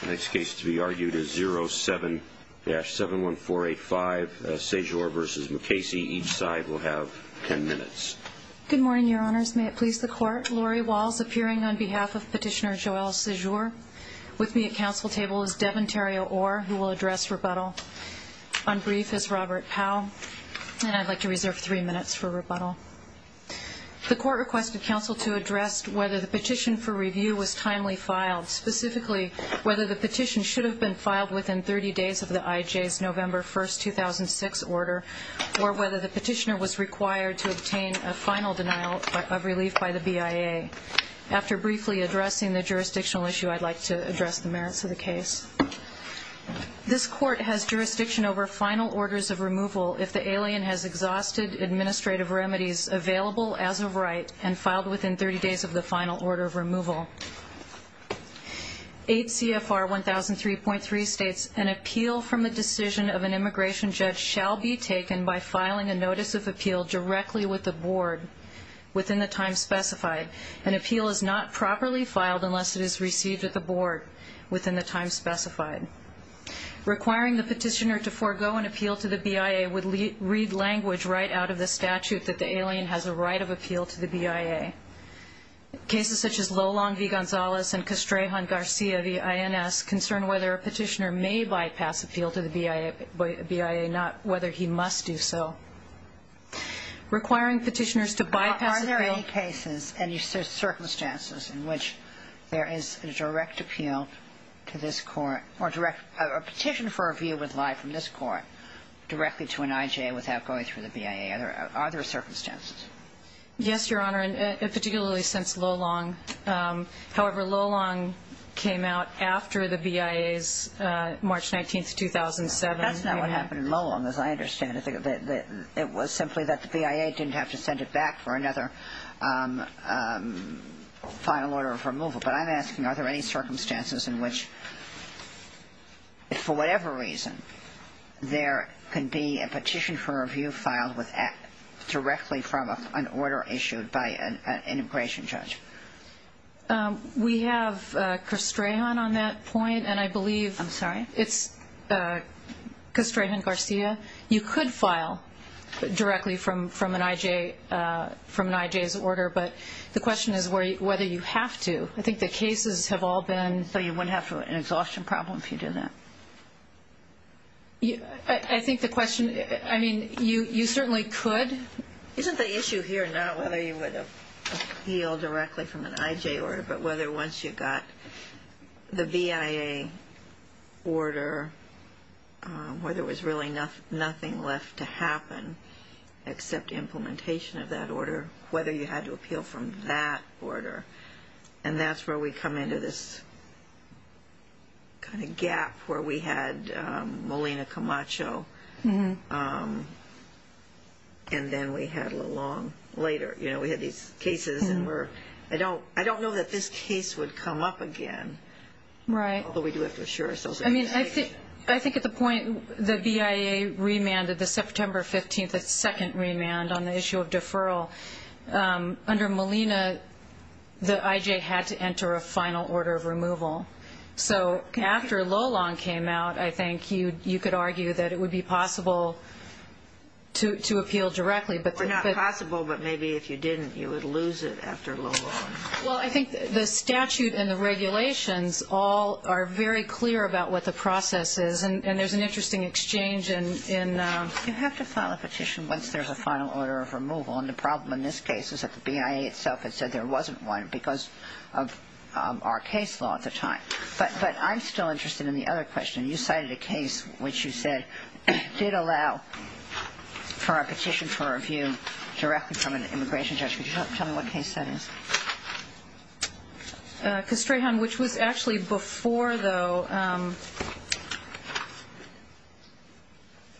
The next case to be argued is 07-71485 Sejour v. Mukasey. Each side will have 10 minutes. Good morning, Your Honors. May it please the Court, Lori Walls appearing on behalf of Petitioner Joelle Sejour. With me at Council table is Devin Terrio-Orr, who will address rebuttal. On brief is Robert Powell, and I'd like to reserve three minutes for rebuttal. The Court requested Council to address whether the petition for review was timely filed, specifically whether the petition should have been filed within 30 days of the IJ's November 1, 2006 order, or whether the Petitioner was required to obtain a final denial of relief by the BIA. After briefly addressing the jurisdictional issue, I'd like to address the merits of the case. This Court has jurisdiction over final orders of removal if the alien has exhausted administrative remedies available as of right and filed within 30 days of the final order of removal. 8 CFR 1003.3 states, An appeal from the decision of an immigration judge shall be taken by filing a notice of appeal directly with the Board within the time specified. An appeal is not properly filed unless it is received at the Board within the time specified. Requiring the Petitioner to forego an appeal to the BIA would read language right out of the statute that the alien has a right of appeal to the BIA. Cases such as Lolong v. Gonzalez and Castrejon Garcia v. INS concern whether a Petitioner may bypass appeal to the BIA, not whether he must do so. Requiring Petitioners to bypass appeal circumstances in which there is a direct appeal to this Court, or a petition for a view would lie from this Court directly to an IJA without going through the BIA. Are there circumstances? Yes, Your Honor, and particularly since Lolong. However, Lolong came out after the BIA's March 19, 2007 hearing. What happened in Lolong, as I understand it, it was simply that the BIA didn't have to send it back for another final order of removal. But I'm asking, are there any circumstances in which, for whatever reason, there can be a petition for review filed directly from an order issued by an immigration judge? We have Castrejon on that point, and I believe... I'm sorry? It's Castrejon Garcia. You could file directly from an IJA's order, but the question is whether you have to. I think the cases have all been... So you wouldn't have an exhaustion problem if you did that? I think the question, I mean, you certainly could. Isn't the issue here not whether you would appeal directly from an IJA order, but whether once you got the BIA order where there was really nothing left to happen except implementation of that order, whether you had to appeal from that order? And that's where we come into this kind of gap where we had Molina Camacho, and then we had Lolong later. We had these cases and we're... I don't know that this case would come up again. Right. Although we do have to assure ourselves... I mean, I think at the point the BIA remanded, the September 15, the second remand on the issue of deferral, under Molina, the IJA had to enter a final order of removal. So after Lolong came out, I think you could argue that it would be possible to appeal directly, but... Or not possible, but maybe if you didn't, you would lose it after Lolong. Well, I think the statute and the regulations all are very clear about what the process is, and there's an interesting exchange in... You have to file a petition once there's a final order of removal, and the problem in this case is that the BIA itself had said there wasn't one because of our case law at the time. But I'm still interested in the other question. You cited a case which you said did allow for a petition for review directly from an immigration judge. Could you tell me what case that is? Castrejon, which was actually before, though...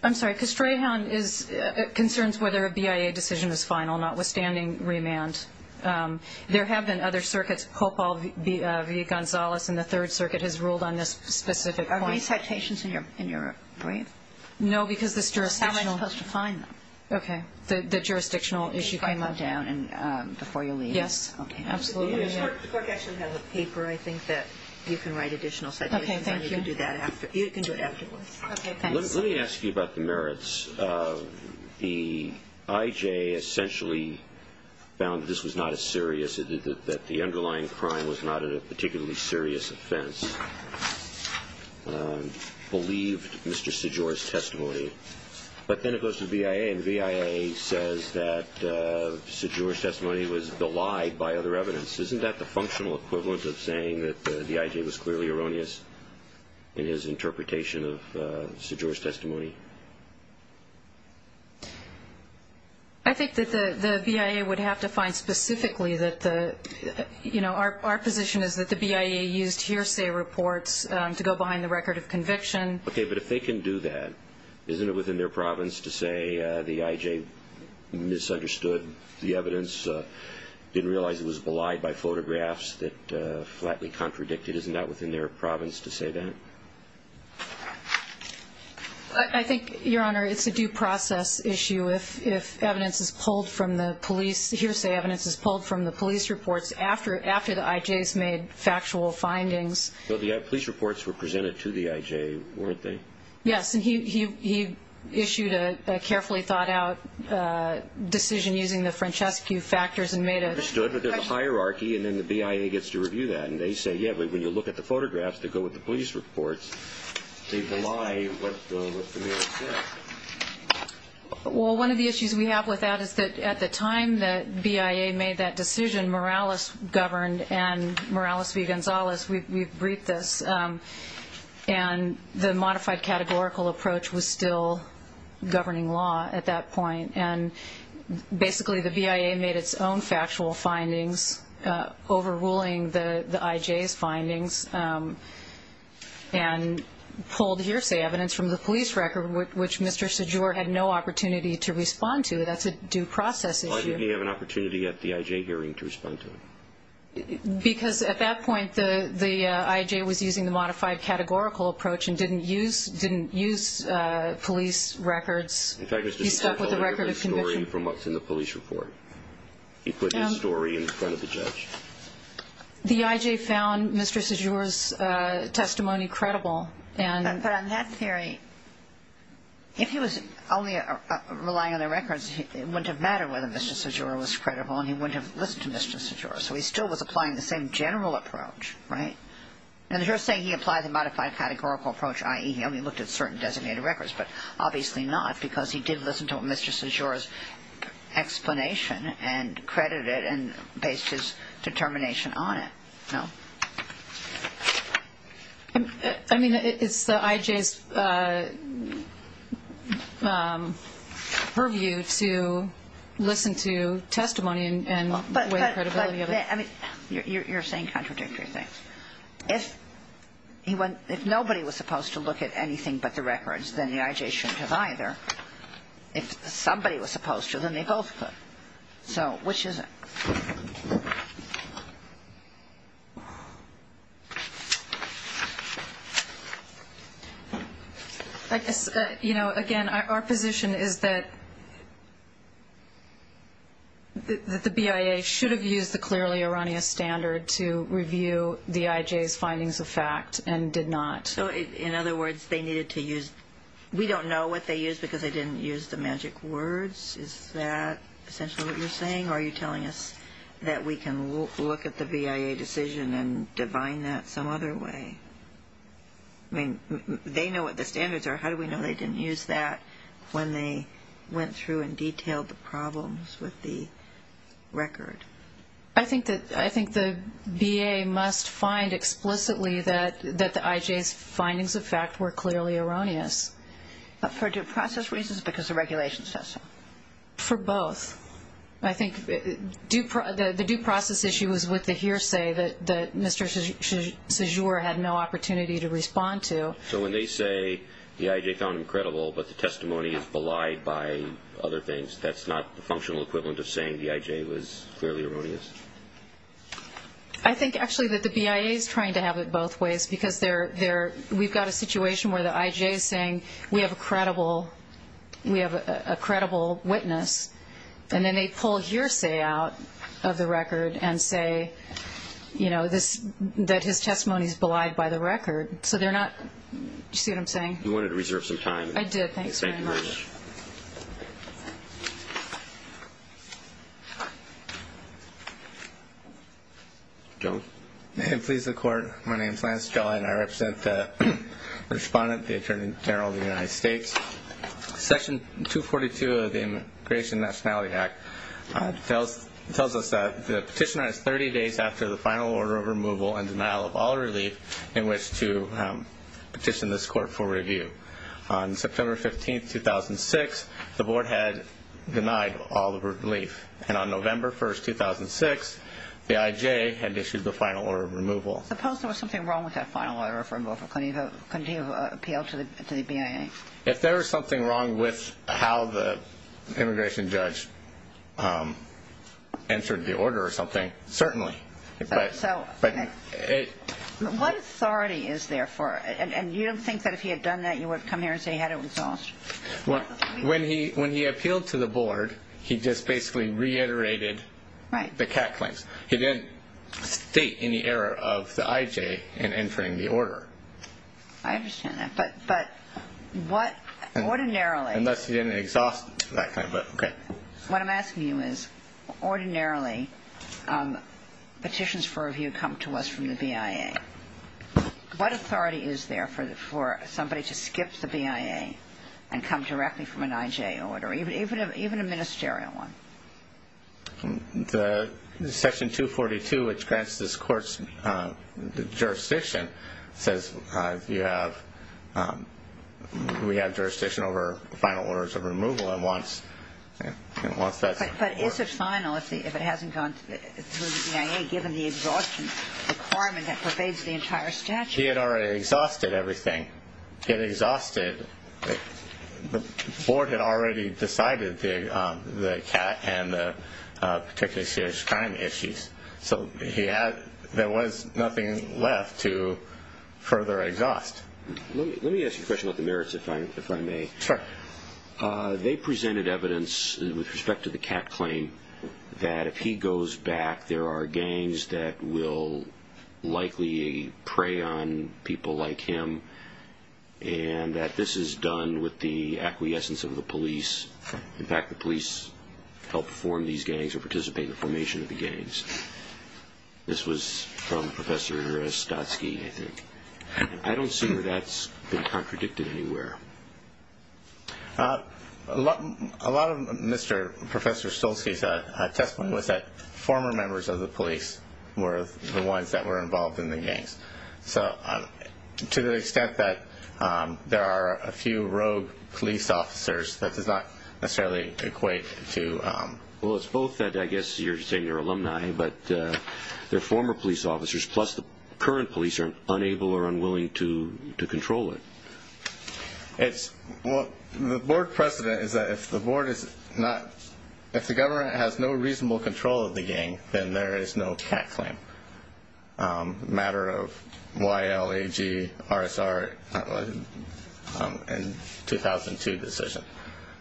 I'm sorry. Castrejon concerns whether a BIA decision is final, notwithstanding remand. There have been other circuits. Popal v. Gonzales in the Third Circuit has ruled on this specific point. Are these citations in your brief? No, because this jurisdictional... How am I supposed to find them? Okay. The jurisdictional issue came up. Before you leave. Yes. Absolutely. The court actually has a paper, I think, that you can write additional citations on. You can do that afterwards. Okay, thanks. Let me ask you about the merits. The IJ essentially found that this was not as serious, that the underlying crime was not a particularly serious offense. Believed Mr. Sejor's testimony. But then it goes to the BIA, and the BIA says that Sejor's testimony was belied by other evidence. Isn't that the functional equivalent of saying that the IJ was clearly erroneous in his interpretation of Sejor's testimony? I think that the BIA would have to find specifically that the, you know, our position is that the BIA used hearsay reports to go behind the record of conviction. Okay, but if they can do that, isn't it within their province to say the IJ misunderstood the evidence, didn't realize it was belied by photographs that flatly contradicted? Isn't that within their province to say that? I think, Your Honor, it's a due process issue. If evidence is pulled from the police, hearsay evidence is pulled from the police reports after the IJ has made factual findings. But the police reports were presented to the IJ, weren't they? Yes, and he issued a carefully thought out decision using the Francescu factors and made a question. Understood, but there's a hierarchy, and then the BIA gets to review that. And they say, yeah, but when you look at the photographs that go with the police reports, they belie what the mayor said. Well, one of the issues we have with that is that at the time that BIA made that decision, Morales governed, and Morales v. Gonzalez, we've briefed this, and the modified categorical approach was still governing law at that point. And basically the BIA made its own factual findings overruling the IJ's findings and pulled hearsay evidence from the police record, which Mr. Sejour had no opportunity to respond to. That's a due process issue. Why didn't he have an opportunity at the IJ hearing to respond to it? Because at that point the IJ was using the modified categorical approach and didn't use police records. In fact, Mr. Sejour had a different story from what's in the police report. He put his story in front of the judge. The IJ found Mr. Sejour's testimony credible. But on that theory, if he was only relying on the records, it wouldn't have mattered whether Mr. Sejour was credible and he wouldn't have listened to Mr. Sejour. So he still was applying the same general approach, right? And you're saying he applied the modified categorical approach, i.e., he only looked at certain designated records, but obviously not because he did listen to Mr. Sejour's explanation and credited and based his determination on it. No. I mean, it's the IJ's purview to listen to testimony and weigh credibility. You're saying contradictory things. If nobody was supposed to look at anything but the records, then the IJ shouldn't have either. If somebody was supposed to, then they both could. So which is it? I guess, you know, again, our position is that the BIA should have used the clearly erroneous standard to review the IJ's findings of fact and did not. So in other words, we don't know what they used because they didn't use the magic words? Is that essentially what you're saying? Or are you telling us that we can look at the BIA decision and divine that some other way? I mean, they know what the standards are. How do we know they didn't use that when they went through and detailed the problems with the record? I think the BIA must find explicitly that the IJ's findings of fact were clearly erroneous. For due process reasons or because the regulations said so? For both. I think the due process issue was with the hearsay that Mr. Sejour had no opportunity to respond to. So when they say the IJ found him credible but the testimony is belied by other things, that's not the functional equivalent of saying the IJ was clearly erroneous? I think, actually, that the BIA is trying to have it both ways because we've got a situation where the IJ is saying we have a credible witness, and then they pull hearsay out of the record and say, you know, that his testimony is belied by the record. So they're not – do you see what I'm saying? You wanted to reserve some time. I did. Thanks very much. Joe. May it please the Court, my name is Lance Jolly and I represent the respondent, the Attorney General of the United States. Section 242 of the Immigration Nationality Act tells us that the petitioner is 30 days after the final order of removal and denial of all relief in which to petition this court for review. On September 15, 2006, the Board had denied all the relief. And on November 1, 2006, the IJ had issued the final order of removal. Suppose there was something wrong with that final order of removal. Couldn't he have appealed to the BIA? If there was something wrong with how the immigration judge entered the order or something, certainly. So what authority is there for – and you don't think that if he had done that, you would have come here and say he had it exhausted? When he appealed to the Board, he just basically reiterated the CAC claims. He didn't state any error of the IJ in entering the order. I understand that. But what ordinarily – Unless he didn't exhaust that claim, but okay. What I'm asking you is ordinarily petitions for review come to us from the BIA. What authority is there for somebody to skip the BIA and come directly from an IJ order, even a ministerial one? Section 242, which grants this court's jurisdiction, says we have jurisdiction over final orders of removal. And once that's – But is it final if it hasn't gone to the BIA, given the exhaustion requirement that pervades the entire statute? He had already exhausted everything. He didn't get exhausted. The Board had already decided the CAT and the particularly serious crime issues. So there was nothing left to further exhaust. Let me ask you a question about the merits, if I may. Sure. They presented evidence with respect to the CAT claim that if he goes back, there are gangs that will likely prey on people like him, and that this is done with the acquiescence of the police. In fact, the police help form these gangs or participate in the formation of the gangs. This was from Professor Stotsky, I think. I don't see where that's been contradicted anywhere. A lot of Professor Stotsky's testimony was that former members of the police were the ones that were involved in the gangs. So to the extent that there are a few rogue police officers, that does not necessarily equate to – Well, it's both that, I guess, you're saying they're alumni, but they're former police officers, plus the current police are unable or unwilling to control it. Well, the Board precedent is that if the Board is not – if the government has no reasonable control of the gang, then there is no CAT claim. Matter of Y-L-A-G-R-S-R in 2002 decision.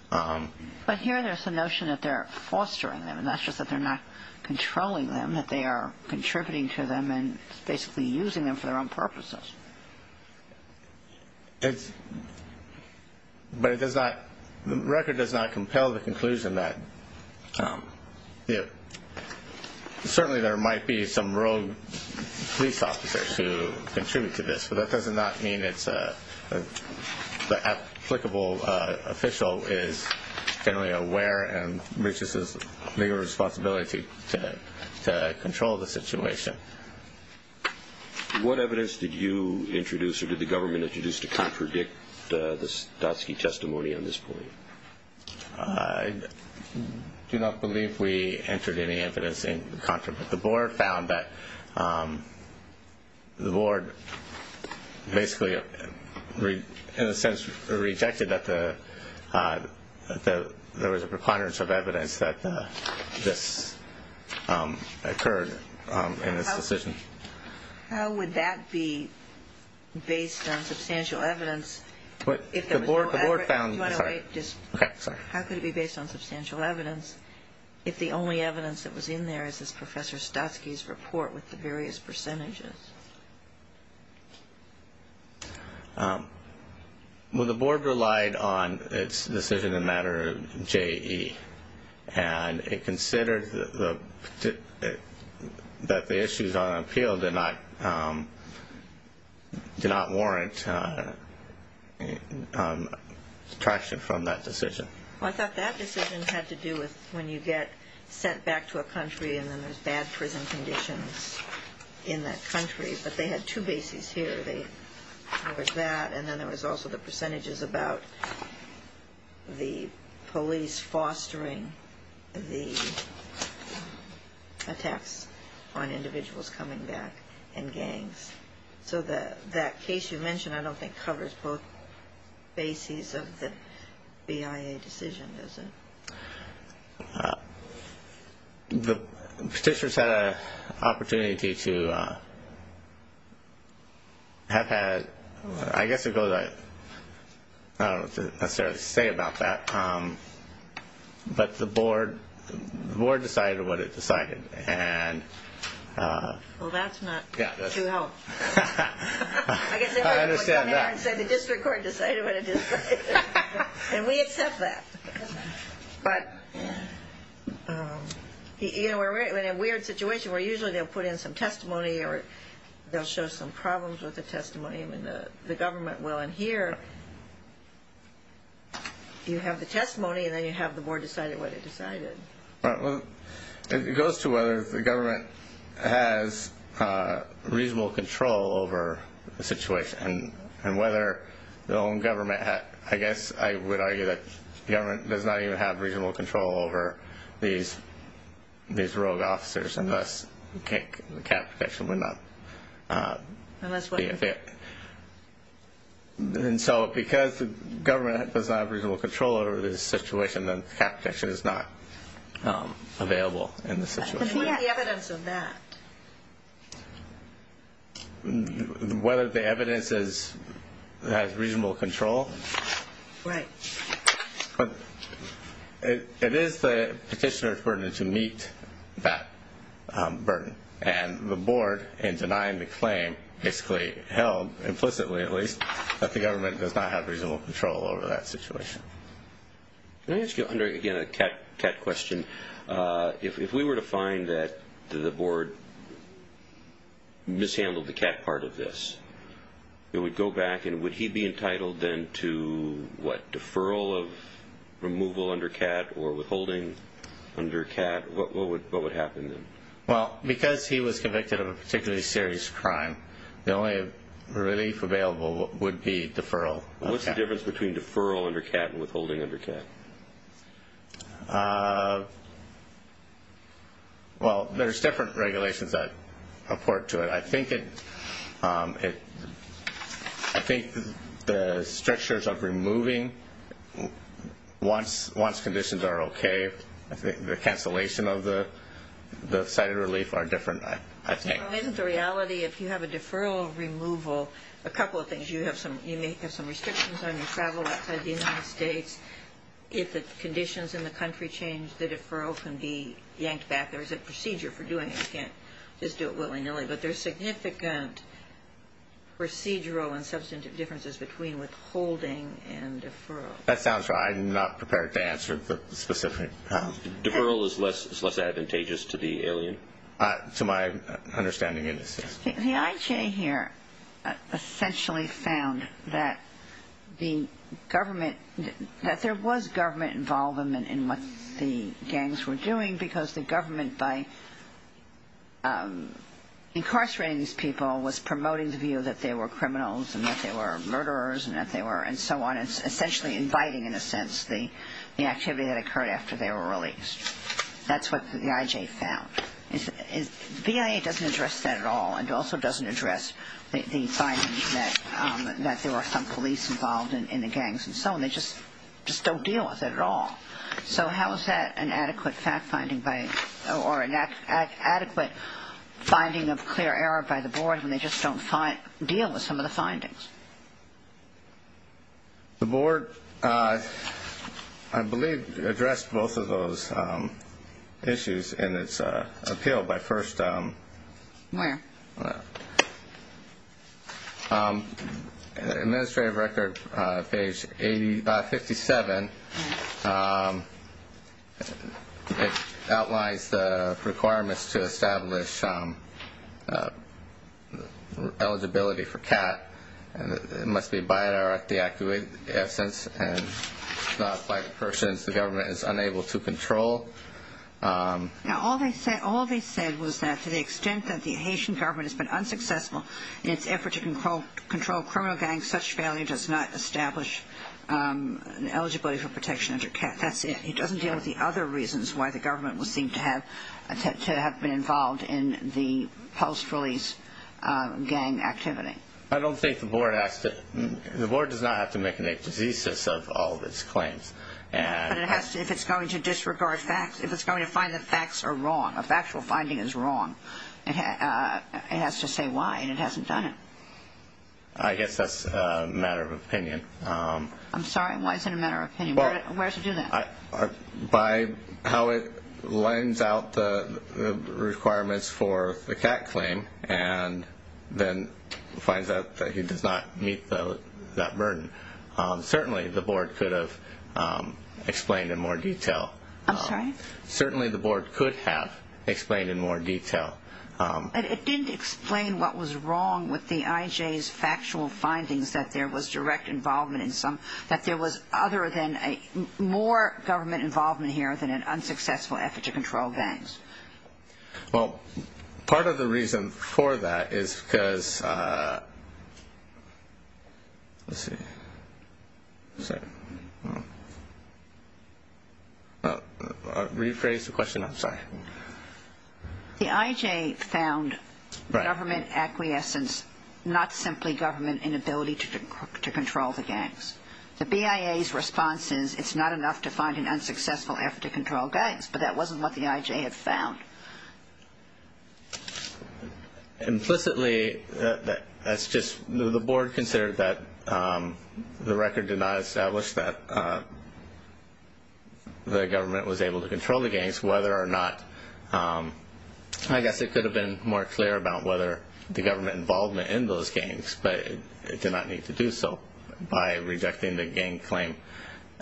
But here there's the notion that they're fostering them, and that's just that they're not controlling them, that they are contributing to them and basically using them for their own purposes. But it does not – the record does not compel the conclusion that – certainly there might be some rogue police officers who contribute to this, but that does not mean it's – the applicable official is generally aware and reaches a legal responsibility to control the situation. What evidence did you introduce, or did the government introduce, to contradict the Stotsky testimony on this point? I do not believe we entered any evidence in contra. The Board found that – the Board basically, in a sense, rejected that there was a preponderance of evidence that this occurred in this decision. How would that be based on substantial evidence? The Board found – Do you want to wait? Okay, sorry. How could it be based on substantial evidence if the only evidence that was in there is this Professor Stotsky's report with the various percentages? Well, the Board relied on its decision in matter of JE, and it considered that the issues on appeal did not warrant traction from that decision. Well, I thought that decision had to do with when you get sent back to a country and then there's bad prison conditions in that country. But they had two bases here. There was that, and then there was also the percentages about the police fostering the attacks on individuals coming back and gangs. So that case you mentioned I don't think covers both bases of the BIA decision, does it? The Petitioners had an opportunity to have had – I guess it goes – I don't know what to necessarily say about that. But the Board decided what it decided. Well, that's not to help. I understand that. I guess they come here and say the District Court decided what it decided. And we accept that. But in a weird situation where usually they'll put in some testimony or they'll show some problems with the testimony and the government will, and here you have the testimony and then you have the Board decide what it decided. It goes to whether the government has reasonable control over the situation and whether their own government – I guess I would argue that the government does not even have reasonable control over these rogue officers and thus the cap petition would not be a fit. And so because the government does not have reasonable control over this situation, then the cap petition is not available in this situation. But what is the evidence of that? Whether the evidence has reasonable control? Right. But it is the Petitioners' burden to meet that burden. And the Board, in denying the claim, basically held, implicitly at least, that the government does not have reasonable control over that situation. Can I ask you, again, a CAT question? If we were to find that the Board mishandled the CAT part of this, it would go back and would he be entitled then to, what, deferral of removal under CAT or withholding under CAT? What would happen then? Well, because he was convicted of a particularly serious crime, the only relief available would be deferral. What's the difference between deferral under CAT and withholding under CAT? Well, there's different regulations that report to it. I think the strictures of removing, once conditions are okay, the cancellation of the cited relief are different, I think. Isn't the reality, if you have a deferral removal, a couple of things. You may have some restrictions on your travel outside the United States. If the conditions in the country change, the deferral can be yanked back. There is a procedure for doing it. You can't just do it willy-nilly. But there are significant procedural and substantive differences between withholding and deferral. That sounds right. I'm not prepared to answer the specific question. Deferral is less advantageous to the alien? To my understanding, it is. The IJ here essentially found that the government, that there was government involvement in what the gangs were doing because the government, by incarcerating these people, was promoting the view that they were criminals and that they were murderers and that they were, and so on. It's essentially inviting, in a sense, the activity that occurred after they were released. That's what the IJ found. The BIA doesn't address that at all and also doesn't address the finding that there were some police involved in the gangs and so on. They just don't deal with it at all. So how is that an adequate fact-finding by, or an adequate finding of clear error by the board when they just don't deal with some of the findings? The board, I believe, addressed both of those issues in its appeal by first. Where? Administrative record, page 57. It outlines the requirements to establish eligibility for CAT and it must be by or at the absence and not by persons the government is unable to control. Now all they said was that to the extent that the Haitian government has been unsuccessful in its effort to control criminal gangs, such failure does not establish an eligibility for protection under CAT. That's it. It doesn't deal with the other reasons why the government would seem to have been involved in the post-release gang activity. I don't think the board asked it. The board does not have to make an ape diseases of all of its claims. But if it's going to disregard facts, if it's going to find that facts are wrong, a factual finding is wrong, it has to say why and it hasn't done it. I guess that's a matter of opinion. I'm sorry, why is it a matter of opinion? Where does it do that? By how it lines out the requirements for the CAT claim and then finds out that it does not meet that burden. Certainly the board could have explained in more detail. I'm sorry? Certainly the board could have explained in more detail. It didn't explain what was wrong with the IJ's factual findings that there was direct involvement in some, that there was other than more government involvement here than an unsuccessful effort to control gangs. Well, part of the reason for that is because, let's see, sorry, rephrase the question, I'm sorry. The IJ found government acquiescence, not simply government inability to control the gangs. The BIA's response is it's not enough to find an unsuccessful effort to control gangs, but that wasn't what the IJ had found. Implicitly, that's just the board considered that the record did not establish that the government was able to control the gangs whether or not, I guess it could have been more clear about whether the government involvement in those gangs, but it did not need to do so by rejecting the gang claim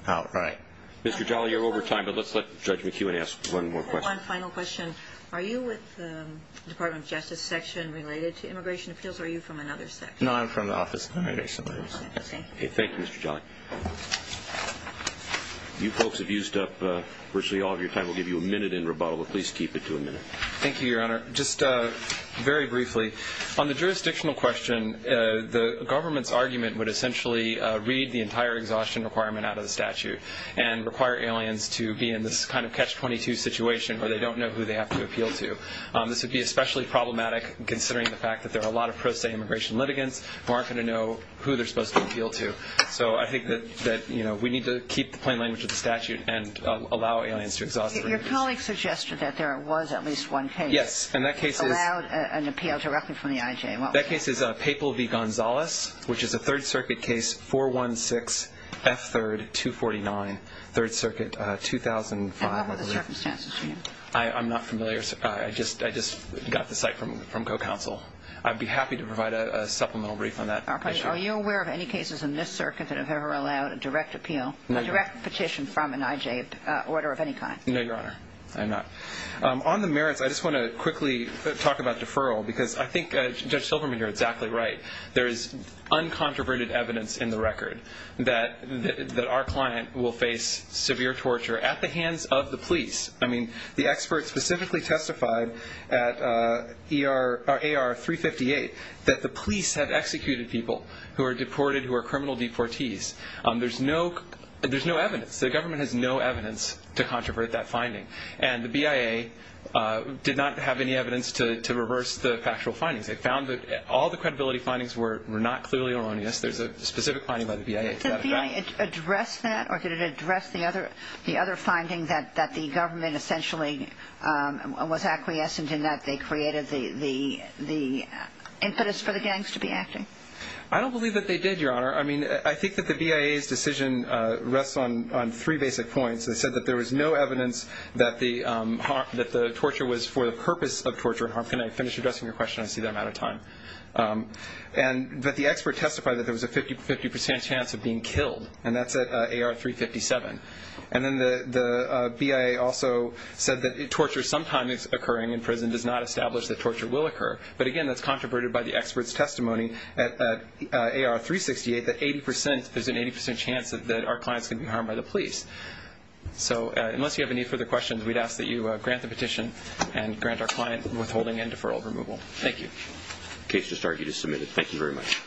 outright. Mr. Jolly, you're over time, but let's let Judge McEwen ask one more question. One final question. Are you with the Department of Justice section related to immigration appeals, or are you from another section? No, I'm from the Office of Immigration Affairs. Okay. Thank you, Mr. Jolly. You folks have used up virtually all of your time. We'll give you a minute in rebuttal, but please keep it to a minute. Thank you, Your Honor. Just very briefly, on the jurisdictional question, the government's argument would essentially read the entire exhaustion requirement out of the statute and require aliens to be in this kind of catch-22 situation where they don't know who they have to appeal to. This would be especially problematic, considering the fact that there are a lot of pro se immigration litigants who aren't going to know who they're supposed to appeal to. So I think that we need to keep the plain language of the statute and allow aliens to exhaust their duties. Your colleague suggested that there was at least one case. Yes, and that case is a Papal v. Gonzales, which is a Third Circuit case, 416F3249, Third Circuit, 2005. And what were the circumstances for you? I'm not familiar. I just got the cite from co-counsel. I'd be happy to provide a supplemental brief on that issue. Are you aware of any cases in this circuit that have ever allowed a direct appeal, a direct petition from an IJ order of any kind? No, Your Honor. I'm not. On the merits, I just want to quickly talk about deferral because I think Judge Silverman, you're exactly right. There is uncontroverted evidence in the record that our client will face severe torture at the hands of the police. I mean, the expert specifically testified at AR 358 that the police have executed people who are deported, who are criminal deportees. There's no evidence. The government has no evidence to controvert that finding. And the BIA did not have any evidence to reverse the factual findings. They found that all the credibility findings were not clearly erroneous. There's a specific finding by the BIA to that effect. Did the BIA address that, or did it address the other findings that the government essentially was acquiescent in that they created the impetus for the gangs to be acting? I don't believe that they did, Your Honor. I mean, I think that the BIA's decision rests on three basic points. It said that there was no evidence that the torture was for the purpose of torture. Can I finish addressing your question? I see that I'm out of time. And that the expert testified that there was a 50% chance of being killed, and that's at AR 357. And then the BIA also said that torture sometimes occurring in prison does not establish that torture will occur. But, again, that's controverted by the expert's testimony at AR 368 that there's an 80% chance that our client's going to be harmed by the police. So unless you have any further questions, we'd ask that you grant the petition and grant our client withholding and deferral of removal. Thank you. The case has now been submitted. Thank you very much.